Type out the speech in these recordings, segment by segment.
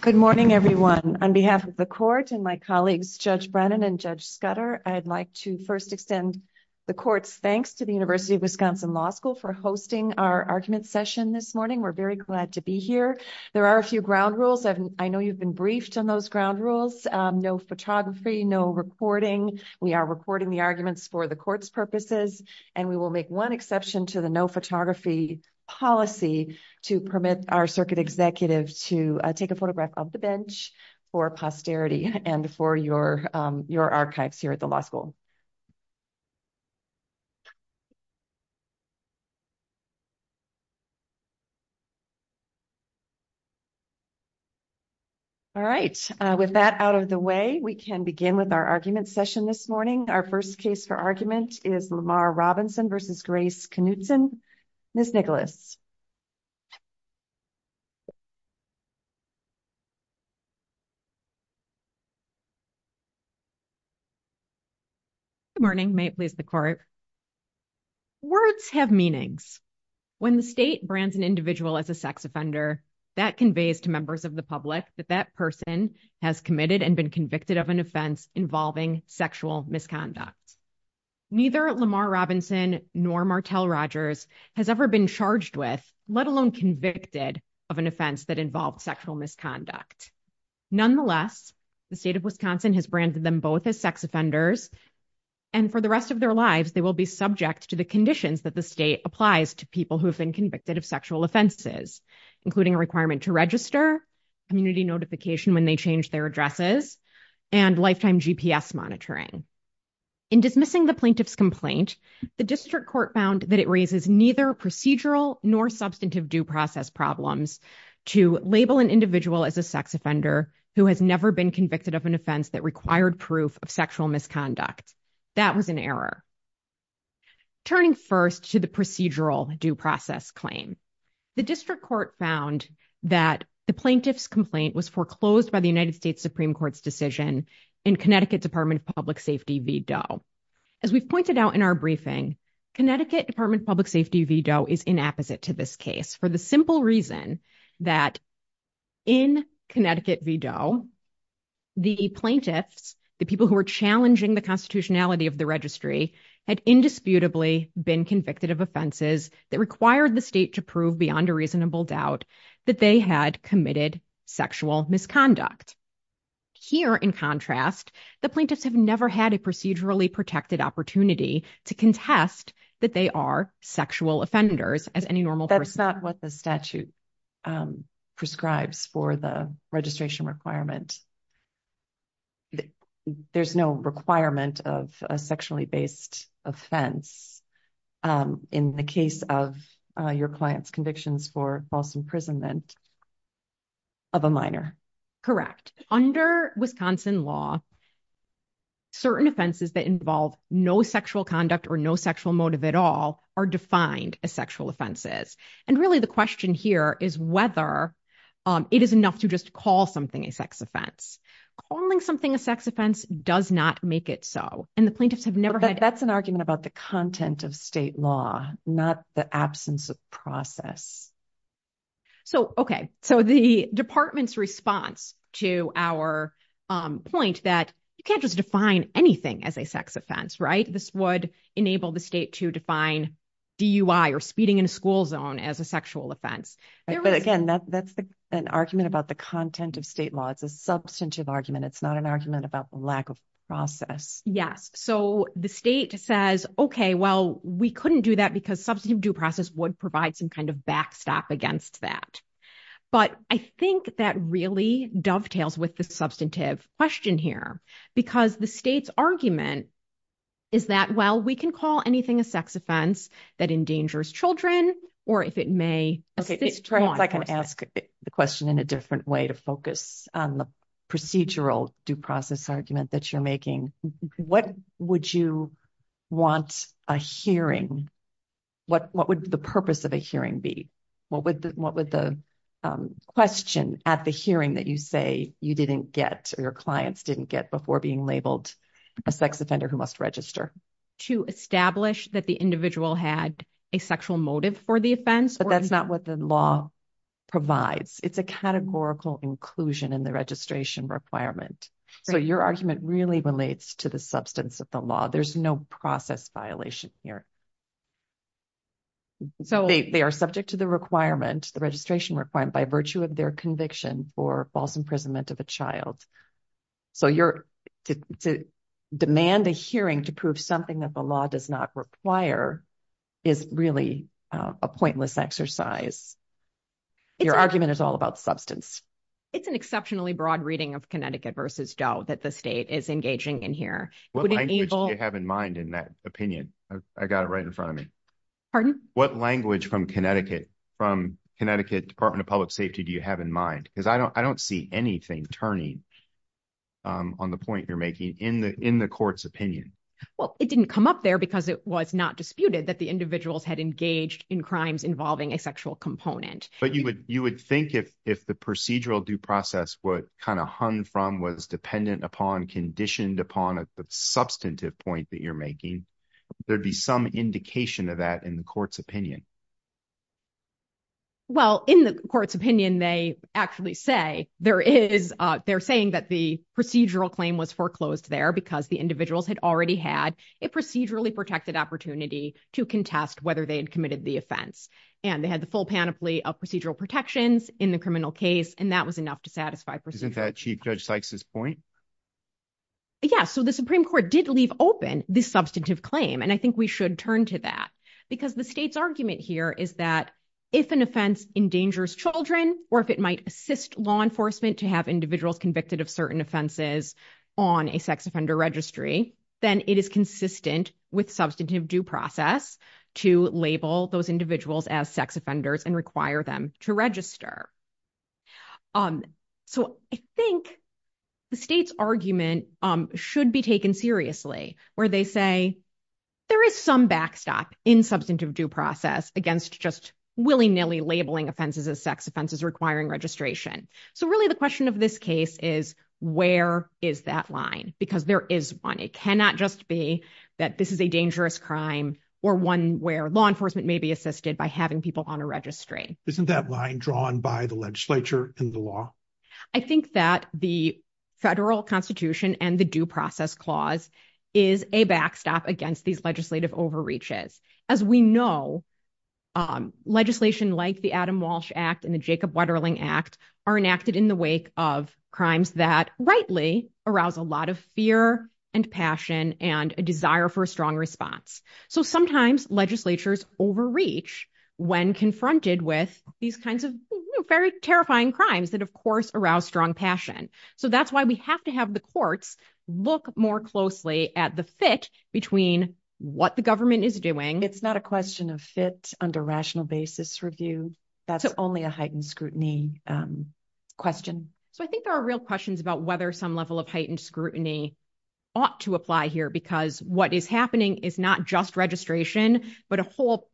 Good morning, everyone. On behalf of the court and my colleagues, Judge Brennan and Judge Scudder, I'd like to first extend the court's thanks to the University of Wisconsin Law School for hosting our argument session this morning. We're very glad to be here. There are a few ground rules. I know you've been briefed on those ground rules, no photography, no recording. We are recording the arguments for the court's purposes, and we will make one exception to the no photography policy to permit our circuit executive to take a photograph of the bench for posterity and for your archives here at the law school. All right, with that out of the way, we can begin with our argument session this morning. Our first case for argument is Lamar Robinson v. Grace Knutson. Ms. Nicholas. Good morning. May it please the court. Words have meanings. When the state brands an individual as a sex offender, that conveys to members of the public that that person has committed and been convicted of an offense involving sexual misconduct. Neither Lamar Robinson nor Martel Rogers has ever been charged with, let alone convicted, of an offense that involved sexual misconduct. Nonetheless, the state of Wisconsin has branded them both as sex offenders, and for the rest of their lives, they will be subject to the conditions that the state applies to people who have been convicted of sexual offenses, including a requirement to register, community notification when they change their addresses, and lifetime GPS monitoring. In dismissing the plaintiff's complaint, the district court found that it raises neither procedural nor substantive due process problems to label an individual as a sex offender who has never been convicted of an offense that required proof of sexual misconduct. That was an error. Turning first to the procedural due process claim, the district court found that the plaintiff's complaint was foreclosed by the United States Supreme Court's decision in Connecticut Department of Public Safety v. Doe. As we've pointed out in our briefing, Connecticut Department of Public Safety v. Doe is inapposite to this case for the simple reason that in Connecticut v. Doe, the plaintiffs, the people who were challenging the constitutionality of the registry, had indisputably been convicted of offenses that required the state to prove beyond a reasonable doubt that they had committed sexual misconduct. Here, in contrast, the plaintiffs have never had a procedurally protected opportunity to contest that they are sexual offenders as any normal person. That's not what the statute prescribes for the registration requirement. There's no requirement of a sexually based offense in the case of your client's convictions for false imprisonment of a minor. Correct. Under Wisconsin law, certain offenses that involve no sexual conduct or no sexual motive at all are defined as sexual offenses. And really the question here is whether it is enough to just call something a sex offense. Calling something a sex offense does not make it so. And the plaintiffs have never had- That's an argument about the content of state law, not the absence of process. So, okay. So the department's response to our point that you can't just define anything as a sex offense, right? This would enable the state to define DUI or speeding in a school zone as a sexual offense. But again, that's an argument about the content of state law. It's a substantive argument. It's not an argument about the lack of process. Yes. So the state says, okay, well, we couldn't do that because substantive due process would provide some kind of backstop against that. But I think that really dovetails with the substantive question here because the state's argument is that, well, we can call anything a sex offense that endangers children or if it may- Okay. Perhaps I can ask the question in a different way to focus on the procedural due process argument that you're making. What would you want a hearing? What would the purpose of a hearing be? What would the question at the hearing that you say you didn't get or your clients didn't get before being labeled a sex offender who must register? To establish that the individual had a sexual motive for the offense? But that's not what the law provides. It's a categorical inclusion in the registration requirement. So your argument really relates to the substance of the law. There's no process violation here. So they are subject to the registration requirement by virtue of their conviction for false imprisonment of a child. So to demand a hearing to prove something that the law does not require is really a pointless exercise. Your argument is all about substance. It's an exceptionally broad reading of Connecticut versus Doe that the state is engaging in here. What language do you have in mind in that opinion? I got it right in front of me. Pardon? What language from Connecticut Department of Public Safety do you have in mind? Because I don't see anything turning on the point you're making in the court's opinion. Well, it didn't come up there because it was not disputed that the individuals had engaged in crimes involving a sexual component. But you would think if the procedural due process would kind of hung from, was dependent upon, conditioned upon at the substantive point that you're making, there'd be some indication of that in the court's opinion. Well, in the court's opinion, they actually say there is, they're saying that the procedural claim was foreclosed there because the individuals had already had a procedurally protected opportunity to contest whether they had committed the offense. And they had the full panoply of procedural protections in the criminal case, and that was enough to satisfy procedures. Isn't that Chief Judge Sykes' point? Yeah. So the Supreme Court did leave open this substantive claim, and I think we should turn to that because the state's argument here is that if an offense endangers children or if it might assist law enforcement to have individuals convicted of certain offenses on a sex offender registry, then it is consistent with substantive due process to label those individuals as sex offenders and require them to register. So I think the state's argument should be taken seriously where they say there is some backstop in substantive due process against just willy-nilly labeling offenses as sex offenses requiring registration. So really the question of this case is where is that line? Because there is one. It cannot just be that this is a dangerous crime or one where law enforcement may be assisted by having people on a registry. Isn't that line drawn by the legislature and the law? I think that the federal constitution and the due process clause is a backstop against these legislative overreaches. As we know, legislation like the Adam Walsh Act and the Jacob Wetterling Act are enacted in the wake of crimes that rightly arouse a lot of fear and passion and a desire for a strong response. So sometimes legislatures overreach when confronted with these kinds of very terrifying crimes that, of course, arouse strong passion. So that's why we have to have the courts look more closely at the fit between what the government is doing. It's not a question of fit under rational basis review. That's only a heightened scrutiny question. So I think there are real questions about whether some level of heightened scrutiny ought to apply here because what is happening is not just registration, but a whole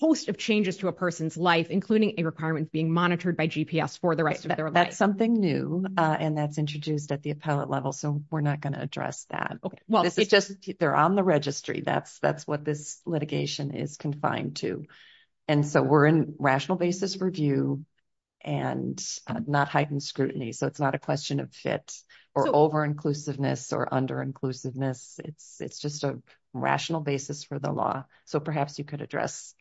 host of changes to a person's life, including a requirement being monitored by GPS for the rest of their life. That's something new and that's introduced at the appellate level. So we're not going to address that. Okay. Well, it's just they're on the registry. That's what this litigation is confined to. And so we're in rational basis review and not heightened scrutiny. So it's not a question of fit or over-inclusiveness or under-inclusiveness. It's just a rational basis for the law. So perhaps you could address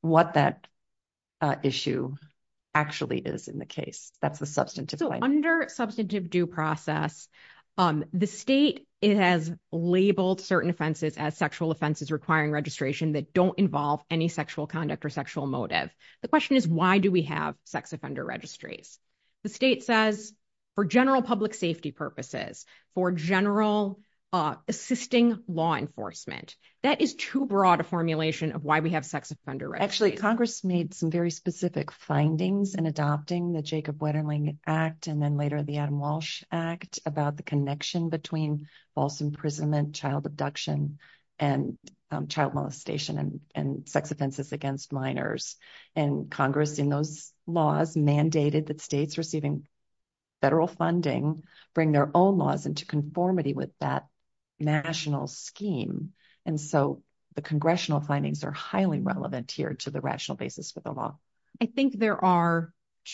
what that issue actually is in the case. That's the substantive point. Under substantive due process, the state has labeled certain offenses as sexual offenses requiring registration that don't involve any sexual conduct or sexual motive. The question is why do we have sex offender registries? The state says for general public safety purposes, for general assisting law enforcement. That is too broad a formulation of why we have sex offender registries. Actually, Congress made some very specific findings in adopting the Jacob Wetterling Act and then later the Adam Walsh Act about the connection between false imprisonment, child abduction, and child molestation and sex offenses against minors. And Congress in those laws mandated that states receiving federal funding bring their own laws into conformity with that national scheme. And so the congressional findings are highly relevant here to the rational basis for the law. I think there are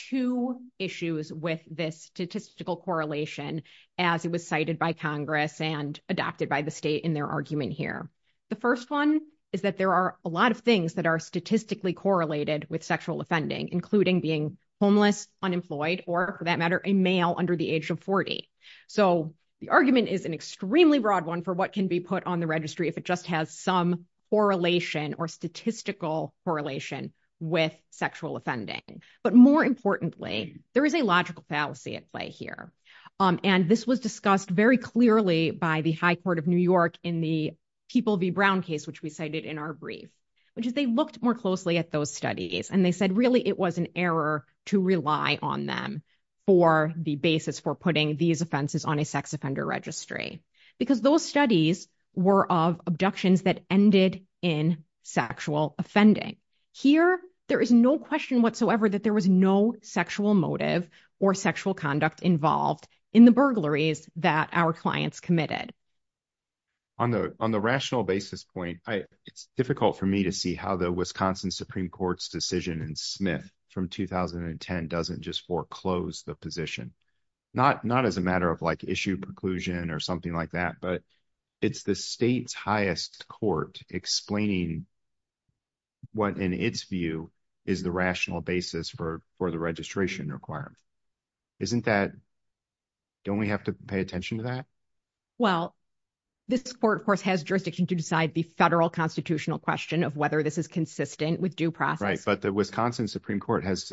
two issues with this statistical correlation as it was cited by Congress and adopted by the state in their argument here. The first one is that there are a lot of things that are statistically correlated with sexual offending, including being homeless, unemployed, or for that matter, a male under the age of 40. So the argument is an extremely broad one for what can be put on the registry if it just has some correlation or statistical correlation with sexual offending. But more importantly, there is a logical fallacy at play here. And this was discussed very clearly by the High Court of New York in the People v. Brown case, which we cited in our brief, which is they looked more closely at those studies. And they said, really, it was an error to rely on them for the basis for putting these offenses on a sex offender registry. Because those studies were of abductions that offending. Here, there is no question whatsoever that there was no sexual motive or sexual conduct involved in the burglaries that our clients committed. On the rational basis point, it's difficult for me to see how the Wisconsin Supreme Court's decision in Smith from 2010 doesn't just foreclose the position. Not as a matter of issue preclusion or something like that. But it's the state's highest court explaining what, in its view, is the rational basis for the registration requirement. Don't we have to pay attention to that? Well, this court, of course, has jurisdiction to decide the federal constitutional question of whether this is consistent with due process. Right. But the Wisconsin Supreme Court has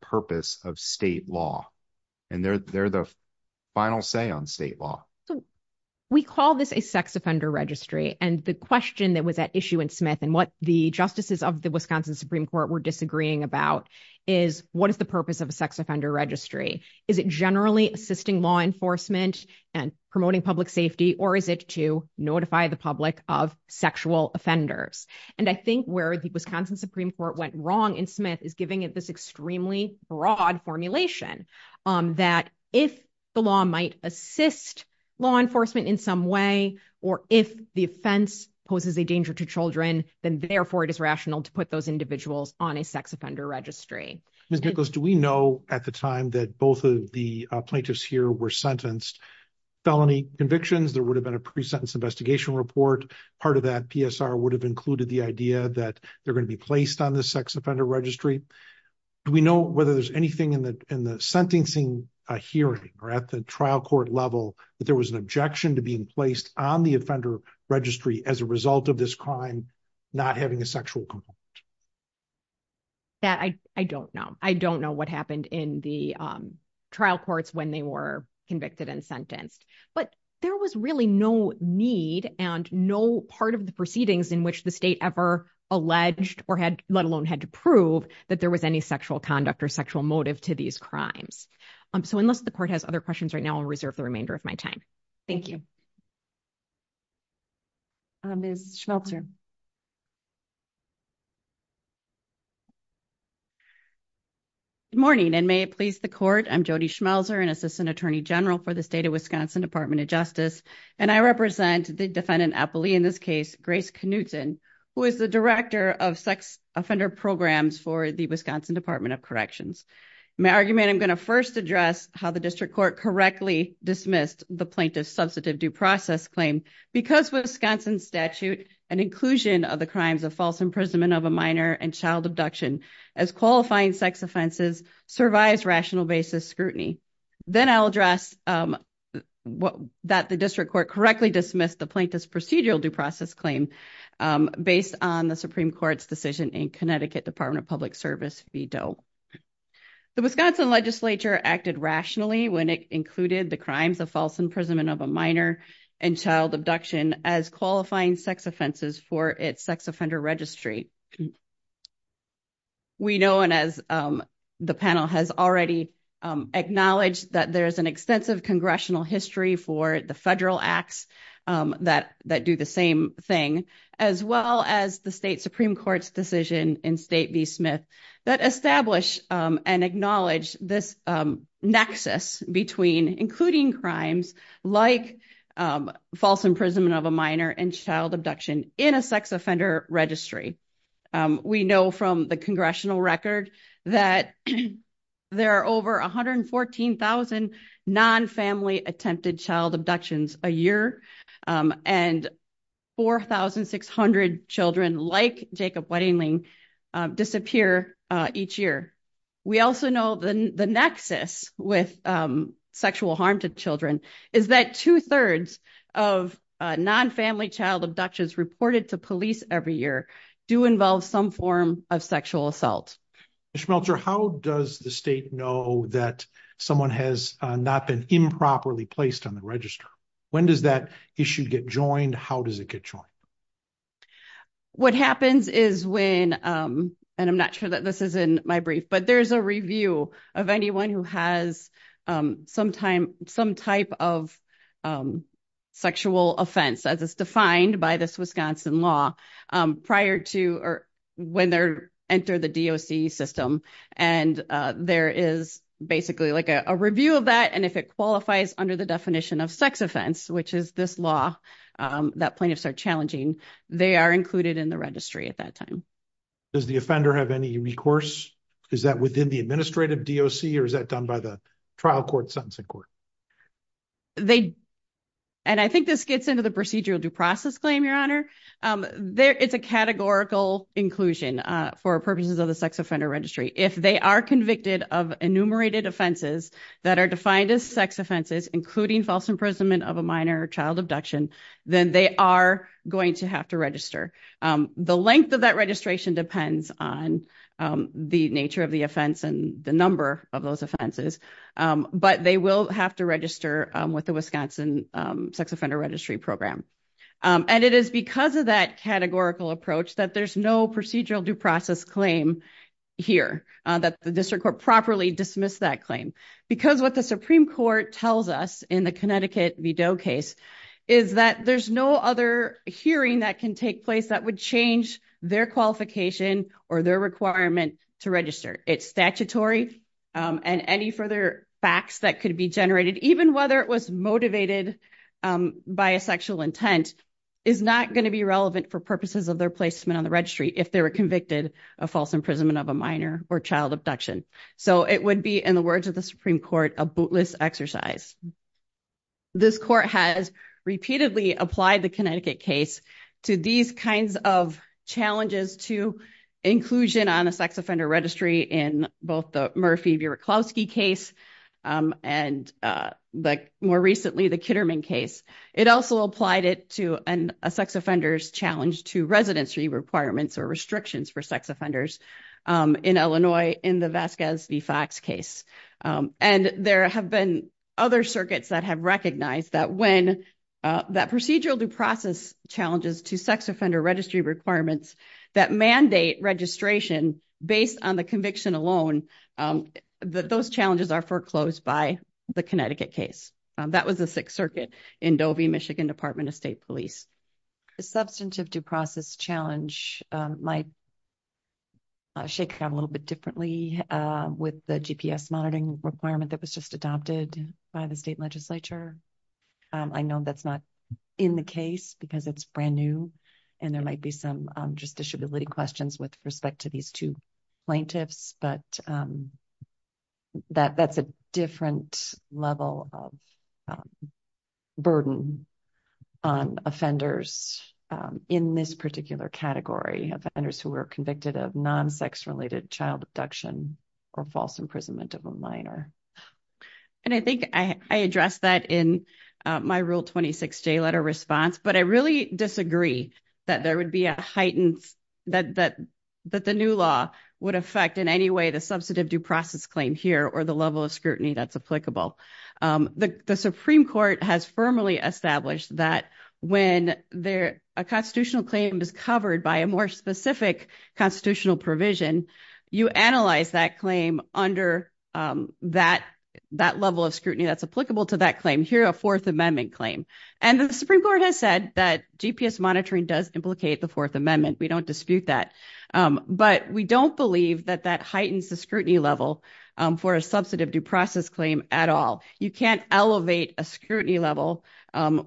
purpose of state law. And they're the final say on state law. We call this a sex offender registry. And the question that was at issue in Smith and what the justices of the Wisconsin Supreme Court were disagreeing about is what is the purpose of a sex offender registry? Is it generally assisting law enforcement and promoting public safety, or is it to notify the public of sexual offenders? And I think where the Wisconsin Supreme Court went wrong in Smith is giving it this extremely broad formulation that if the law might assist law enforcement in some way, or if the offense poses a danger to children, then therefore it is rational to put those individuals on a sex offender registry. Ms. Nichols, do we know at the time that both of the plaintiffs here were sentenced felony convictions? There would have been a pre-sentence investigation report. Part of that PSR would have included the idea that they're going to be placed on the sex offender registry. Do we know whether there's anything in the sentencing hearing or at the trial court level that there was an objection to being placed on the offender registry as a result of this crime not having a sexual component? I don't know. I don't know what happened in the trial courts when they were convicted and sentenced, but there was really no need and no part of the proceedings in which the state ever alleged or had, let alone had to prove that there was any sexual conduct or sexual motive to these crimes. So unless the court has other questions right now, I'll reserve the remainder of my time. Thank you. Ms. Schmelzer. Good morning, and may it please the court. I'm Jody Schmelzer, an assistant attorney general for the state of Wisconsin Department of Justice, and I represent the defendant appellee in this case, Grace Knutson, who is the director of sex offender programs for the Wisconsin Department of Corrections. In my argument, I'm going to first address how the district court correctly dismissed the plaintiff's of the crimes of false imprisonment of a minor and child abduction as qualifying sex offenses survives rational basis scrutiny. Then I'll address that the district court correctly dismissed the plaintiff's procedural due process claim based on the Supreme Court's decision in Connecticut Department of Public Service v. Doe. The Wisconsin legislature acted rationally when it included the crimes of false imprisonment of a minor and child abduction as qualifying sex offenses for its sex offender registry. We know, and as the panel has already acknowledged, that there's an extensive congressional history for the federal acts that do the same thing, as well as the state Supreme Court's decision in State v. Smith that establish and acknowledge this nexus between including crimes like false imprisonment of a minor and child abduction in a sex offender registry. We know from the congressional record that there are over 114,000 non-family attempted child abductions a year, and 4,600 children like Jacob Weddingling disappear each year. We also know the the nexus with sexual harm to children is that two-thirds of non-family child abductions reported to police every year do involve some form of sexual assault. Ms. Schmelzer, how does the state know that someone has not been improperly placed on the register? When does that issue get joined? How does it get joined? What happens is when, and I'm not sure that this is in my brief, but there's a review of anyone who has some type of sexual offense, as is defined by this Wisconsin law, prior to or when they enter the DOC system, and there is basically like a review of that, and if it qualifies under the definition of sex offense, which is this law that plaintiffs are challenging, they are included in the registry at that time. Does the offender have any recourse? Is that within the administrative DOC, or is that done by the trial court, sentencing court? They, and I think this gets into the procedural due process claim, Your Honor. It's a categorical inclusion for purposes of the sex offender registry. If they are convicted of enumerated offenses that are defined as sex offenses, including false imprisonment of a minor child abduction, then they are going to have to register. The length of that registration depends on the nature of the offense and the number of those offenses, but they will have to register with the Wisconsin sex offender registry program. And it is because of that categorical approach that there's no procedural due process claim here, that the district court properly dismissed that claim. Because what the Supreme Court tells us in the Connecticut VDOE case is that there's no other hearing that can take place that would change their qualification or their requirement to register. It's statutory and any further facts that could be generated, even whether it was motivated by a sexual intent, is not going to be relevant for purposes of their placement on the registry if they were convicted of false imprisonment of a minor or child abduction. So it would be, in the words of the Supreme Court, a bootless exercise. This court has repeatedly applied the Connecticut case to these kinds of challenges to inclusion on a sex offender registry in both the Murphy-Bierutkowski case and more recently the Kitterman case. It also applied it to a sex offender's challenge to residency requirements or restrictions for sex offenders in Illinois in the Vasquez v. Fox case. And there have been other circuits that have recognized that procedural due process challenges to sex offender registry requirements that mandate registration based on the conviction alone, those challenges are foreclosed by the Connecticut case. That was the Sixth Circuit in Dovey, Michigan Department of State Police. The substantive due process challenge might shake a little bit differently with the GPS monitoring requirement that was just adopted by the state legislature. I know that's not in the case because it's brand new and there might be some justiciability questions with respect to two plaintiffs, but that's a different level of burden on offenders in this particular category, offenders who were convicted of non-sex-related child abduction or false imprisonment of a minor. And I think I addressed that in my Rule 26 J letter response, but I really disagree that there would affect in any way the substantive due process claim here or the level of scrutiny that's applicable. The Supreme Court has firmly established that when a constitutional claim is covered by a more specific constitutional provision, you analyze that claim under that level of scrutiny that's applicable to that claim here, a Fourth Amendment claim. And the Supreme Court has said that GPS monitoring does implicate the Fourth Amendment. We don't believe that that heightens the scrutiny level for a substantive due process claim at all. You can't elevate a scrutiny level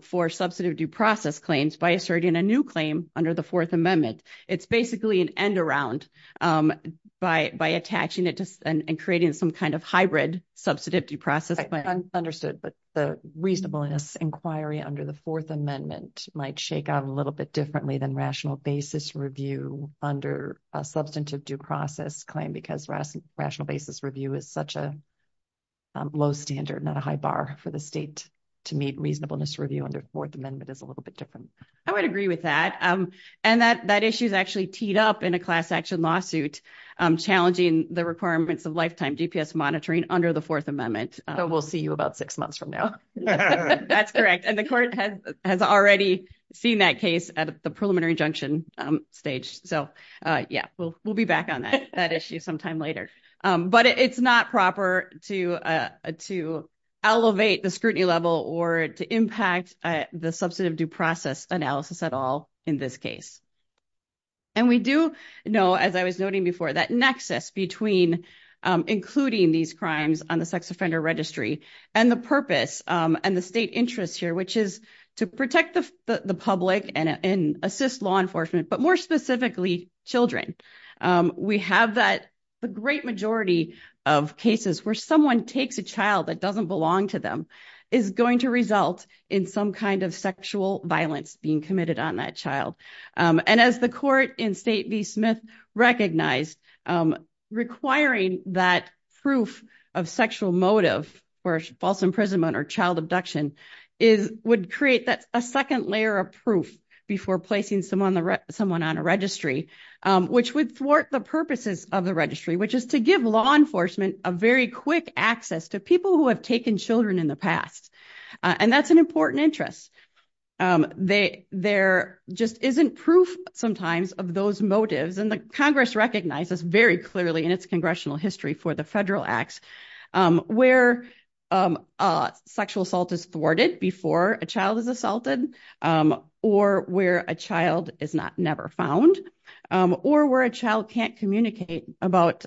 for substantive due process claims by asserting a new claim under the Fourth Amendment. It's basically an end around by attaching it to and creating some kind of hybrid substantive due process. I understood, but the reasonableness inquiry under the Fourth Amendment might shake out a little bit differently than rational basis review under a substantive due process claim, because rational basis review is such a low standard, not a high bar for the state to meet reasonableness review under Fourth Amendment is a little bit different. I would agree with that. And that issue is actually teed up in a class action lawsuit challenging the requirements of lifetime GPS monitoring under the Fourth Amendment. We'll see you about six months from now. That's correct. And the court has already seen that case at the preliminary injunction stage. So, yeah, we'll be back on that issue sometime later. But it's not proper to elevate the scrutiny level or to impact the substantive due process analysis at all in this case. And we do know, as I was noting before, that nexus between including these crimes on the sex offender registry and the purpose and the state interest here, which is to protect the public and assist law enforcement, but more specifically, children. We have that the great majority of cases where someone takes a child that doesn't belong to them is going to result in some kind of sexual violence being committed on that child. And as the court in State v. Smith recognized, requiring that proof of sexual motive for a child is going to create a second layer of proof before placing someone on a registry, which would thwart the purposes of the registry, which is to give law enforcement a very quick access to people who have taken children in the past. And that's an important interest. There just isn't proof sometimes of those motives. And the Congress recognizes very clearly in its congressional history for the federal acts where sexual assault is thwarted before a child is assaulted, or where a child is never found, or where a child can't communicate about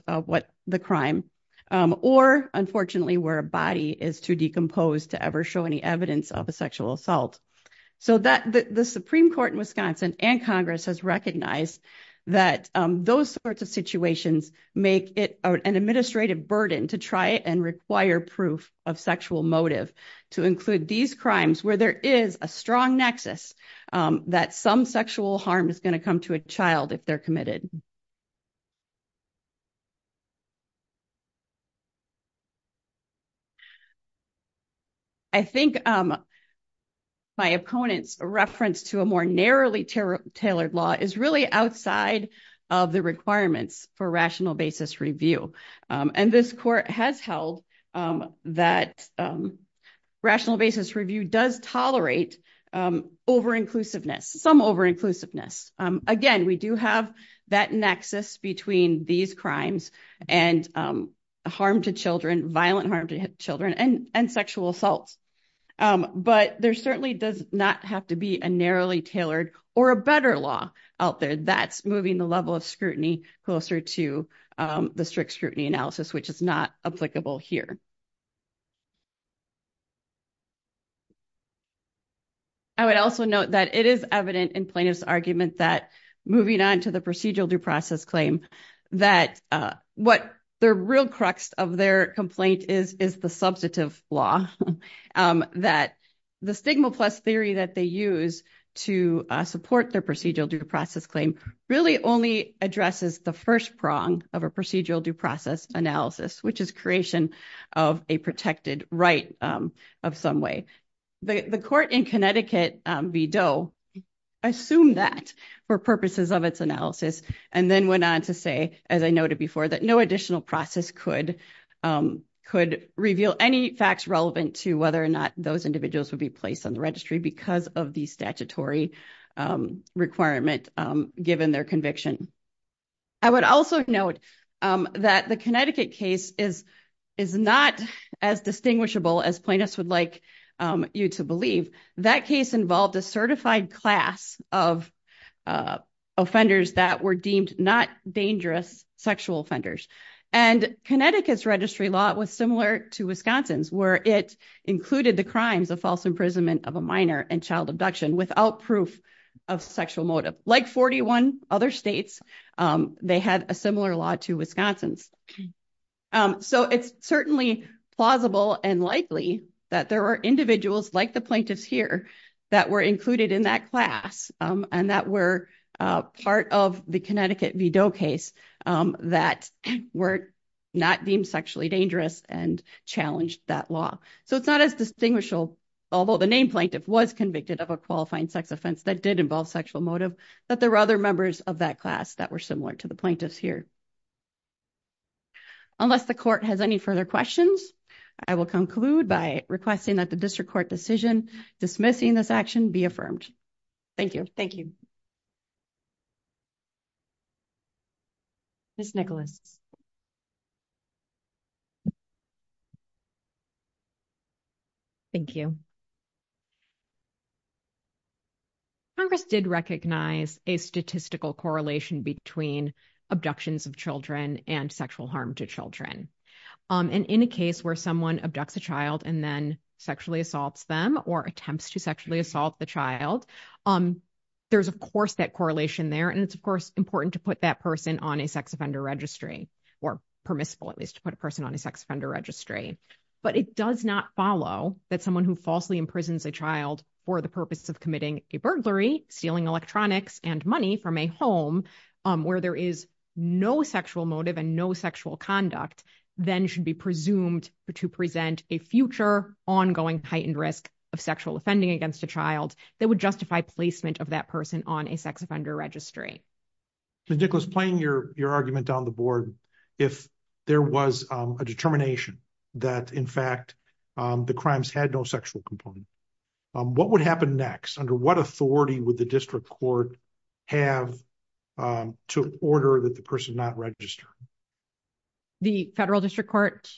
the crime, or unfortunately, where a body is too decomposed to ever show any evidence of a sexual assault. So the Supreme Court in Wisconsin and Congress has recognized that those sorts of situations make it an administrative burden to try and require proof of sexual motive to include these crimes where there is a strong nexus that some sexual harm is going to come to a child if they're committed. I think my opponent's reference to a more narrowly tailored law is really outside of the requirements for rational basis review. And this court has held that rational basis review does tolerate over-inclusiveness, some over-inclusiveness. Again, we do have that nexus between these crimes and harm to children, violent harm to children, and sexual assault. But there certainly does not have to be a narrowly tailored or a better law out there. That's moving the level of scrutiny closer to the strict scrutiny analysis, which is not applicable here. I would also note that it is evident in Plaintiff's argument that, moving on to the procedural due process claim, that what the real crux of their complaint is, is the substantive law, that the stigma plus theory that they use to support their procedural due process claim really only addresses the first prong of a procedural due process analysis, which is creation of a protected right of some way. The court in Connecticut v. Doe assumed that for purposes of its analysis and then went on to say, as I noted before, that no additional process could reveal any facts relevant to whether or not those individuals would be placed on the given their conviction. I would also note that the Connecticut case is not as distinguishable as plaintiffs would like you to believe. That case involved a certified class of offenders that were deemed not dangerous sexual offenders. And Connecticut's registry law was similar to Wisconsin's, where it included the crimes of false imprisonment of a minor and child abduction without proof of sexual motive. Like 41 other states, they had a similar law to Wisconsin's. So it's certainly plausible and likely that there are individuals like the plaintiffs here that were included in that class and that were part of the Connecticut v. Doe case that were not deemed sexually dangerous and challenged that law. So it's not as that did involve sexual motive, that there were other members of that class that were similar to the plaintiffs here. Unless the court has any further questions, I will conclude by requesting that the district court decision dismissing this action be affirmed. Thank you. Thank you. Ms. Nicholas. Thank you. Congress did recognize a statistical correlation between abductions of children and sexual harm to children. And in a case where someone abducts a child and then sexually assaults them or attempts to sexually assault the child, there's, of course, that correlation there. And it's, of course, important to put that person on a sex offender registry or permissible, at least, to put a person on a sex offender registry. But it does not follow that someone who falsely imprisons a child for the purpose of committing a burglary, stealing electronics and money from a home where there is no sexual motive and no sexual conduct then should be presumed to present a ongoing heightened risk of sexual offending against a child that would justify placement of that person on a sex offender registry. Ms. Nicholas, playing your argument down the board, if there was a determination that, in fact, the crimes had no sexual component, what would happen next? Under what authority would the district court have to order that the person not registered? The federal district court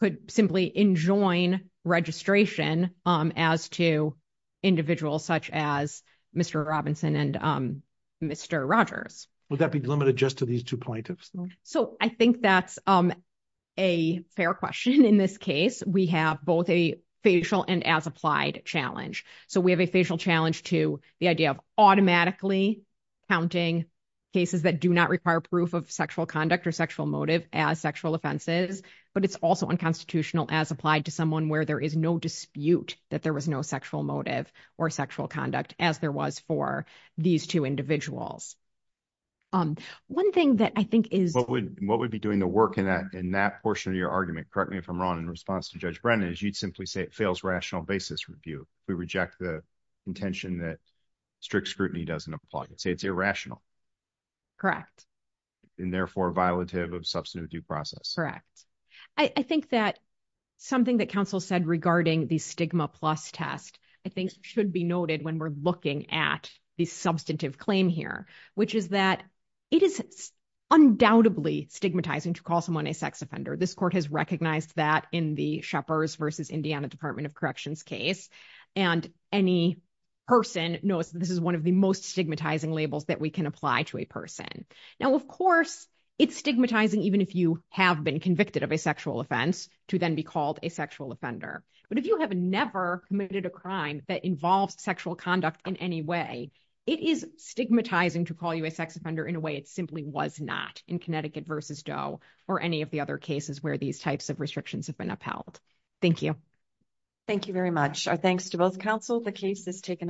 could simply enjoin registration as to individuals such as Mr. Robinson and Mr. Rogers. Would that be limited just to these two plaintiffs? So I think that's a fair question. In this case, we have both a facial and as applied challenge. So we have a sexual conduct or sexual motive as sexual offenses, but it's also unconstitutional as applied to someone where there is no dispute that there was no sexual motive or sexual conduct as there was for these two individuals. One thing that I think is what would what would be doing the work in that in that portion of your argument, correct me if I'm wrong, in response to Judge Brennan, is you'd simply say it fails rational basis review. We reject the intention that strict scrutiny doesn't apply and say it's irrational, correct, and therefore violative of substantive due process. Correct. I think that something that counsel said regarding the stigma plus test, I think should be noted when we're looking at the substantive claim here, which is that it is undoubtedly stigmatizing to call someone a sex offender. This court has recognized that in the Indiana Department of Corrections case and any person knows this is one of the most stigmatizing labels that we can apply to a person. Now, of course, it's stigmatizing even if you have been convicted of a sexual offense to then be called a sexual offender. But if you have never committed a crime that involves sexual conduct in any way, it is stigmatizing to call you a sex offender in a way it simply was not in Connecticut versus Doe or any of the other cases where these types of Thank you. Thank you very much. Our thanks to both counsel. The case has taken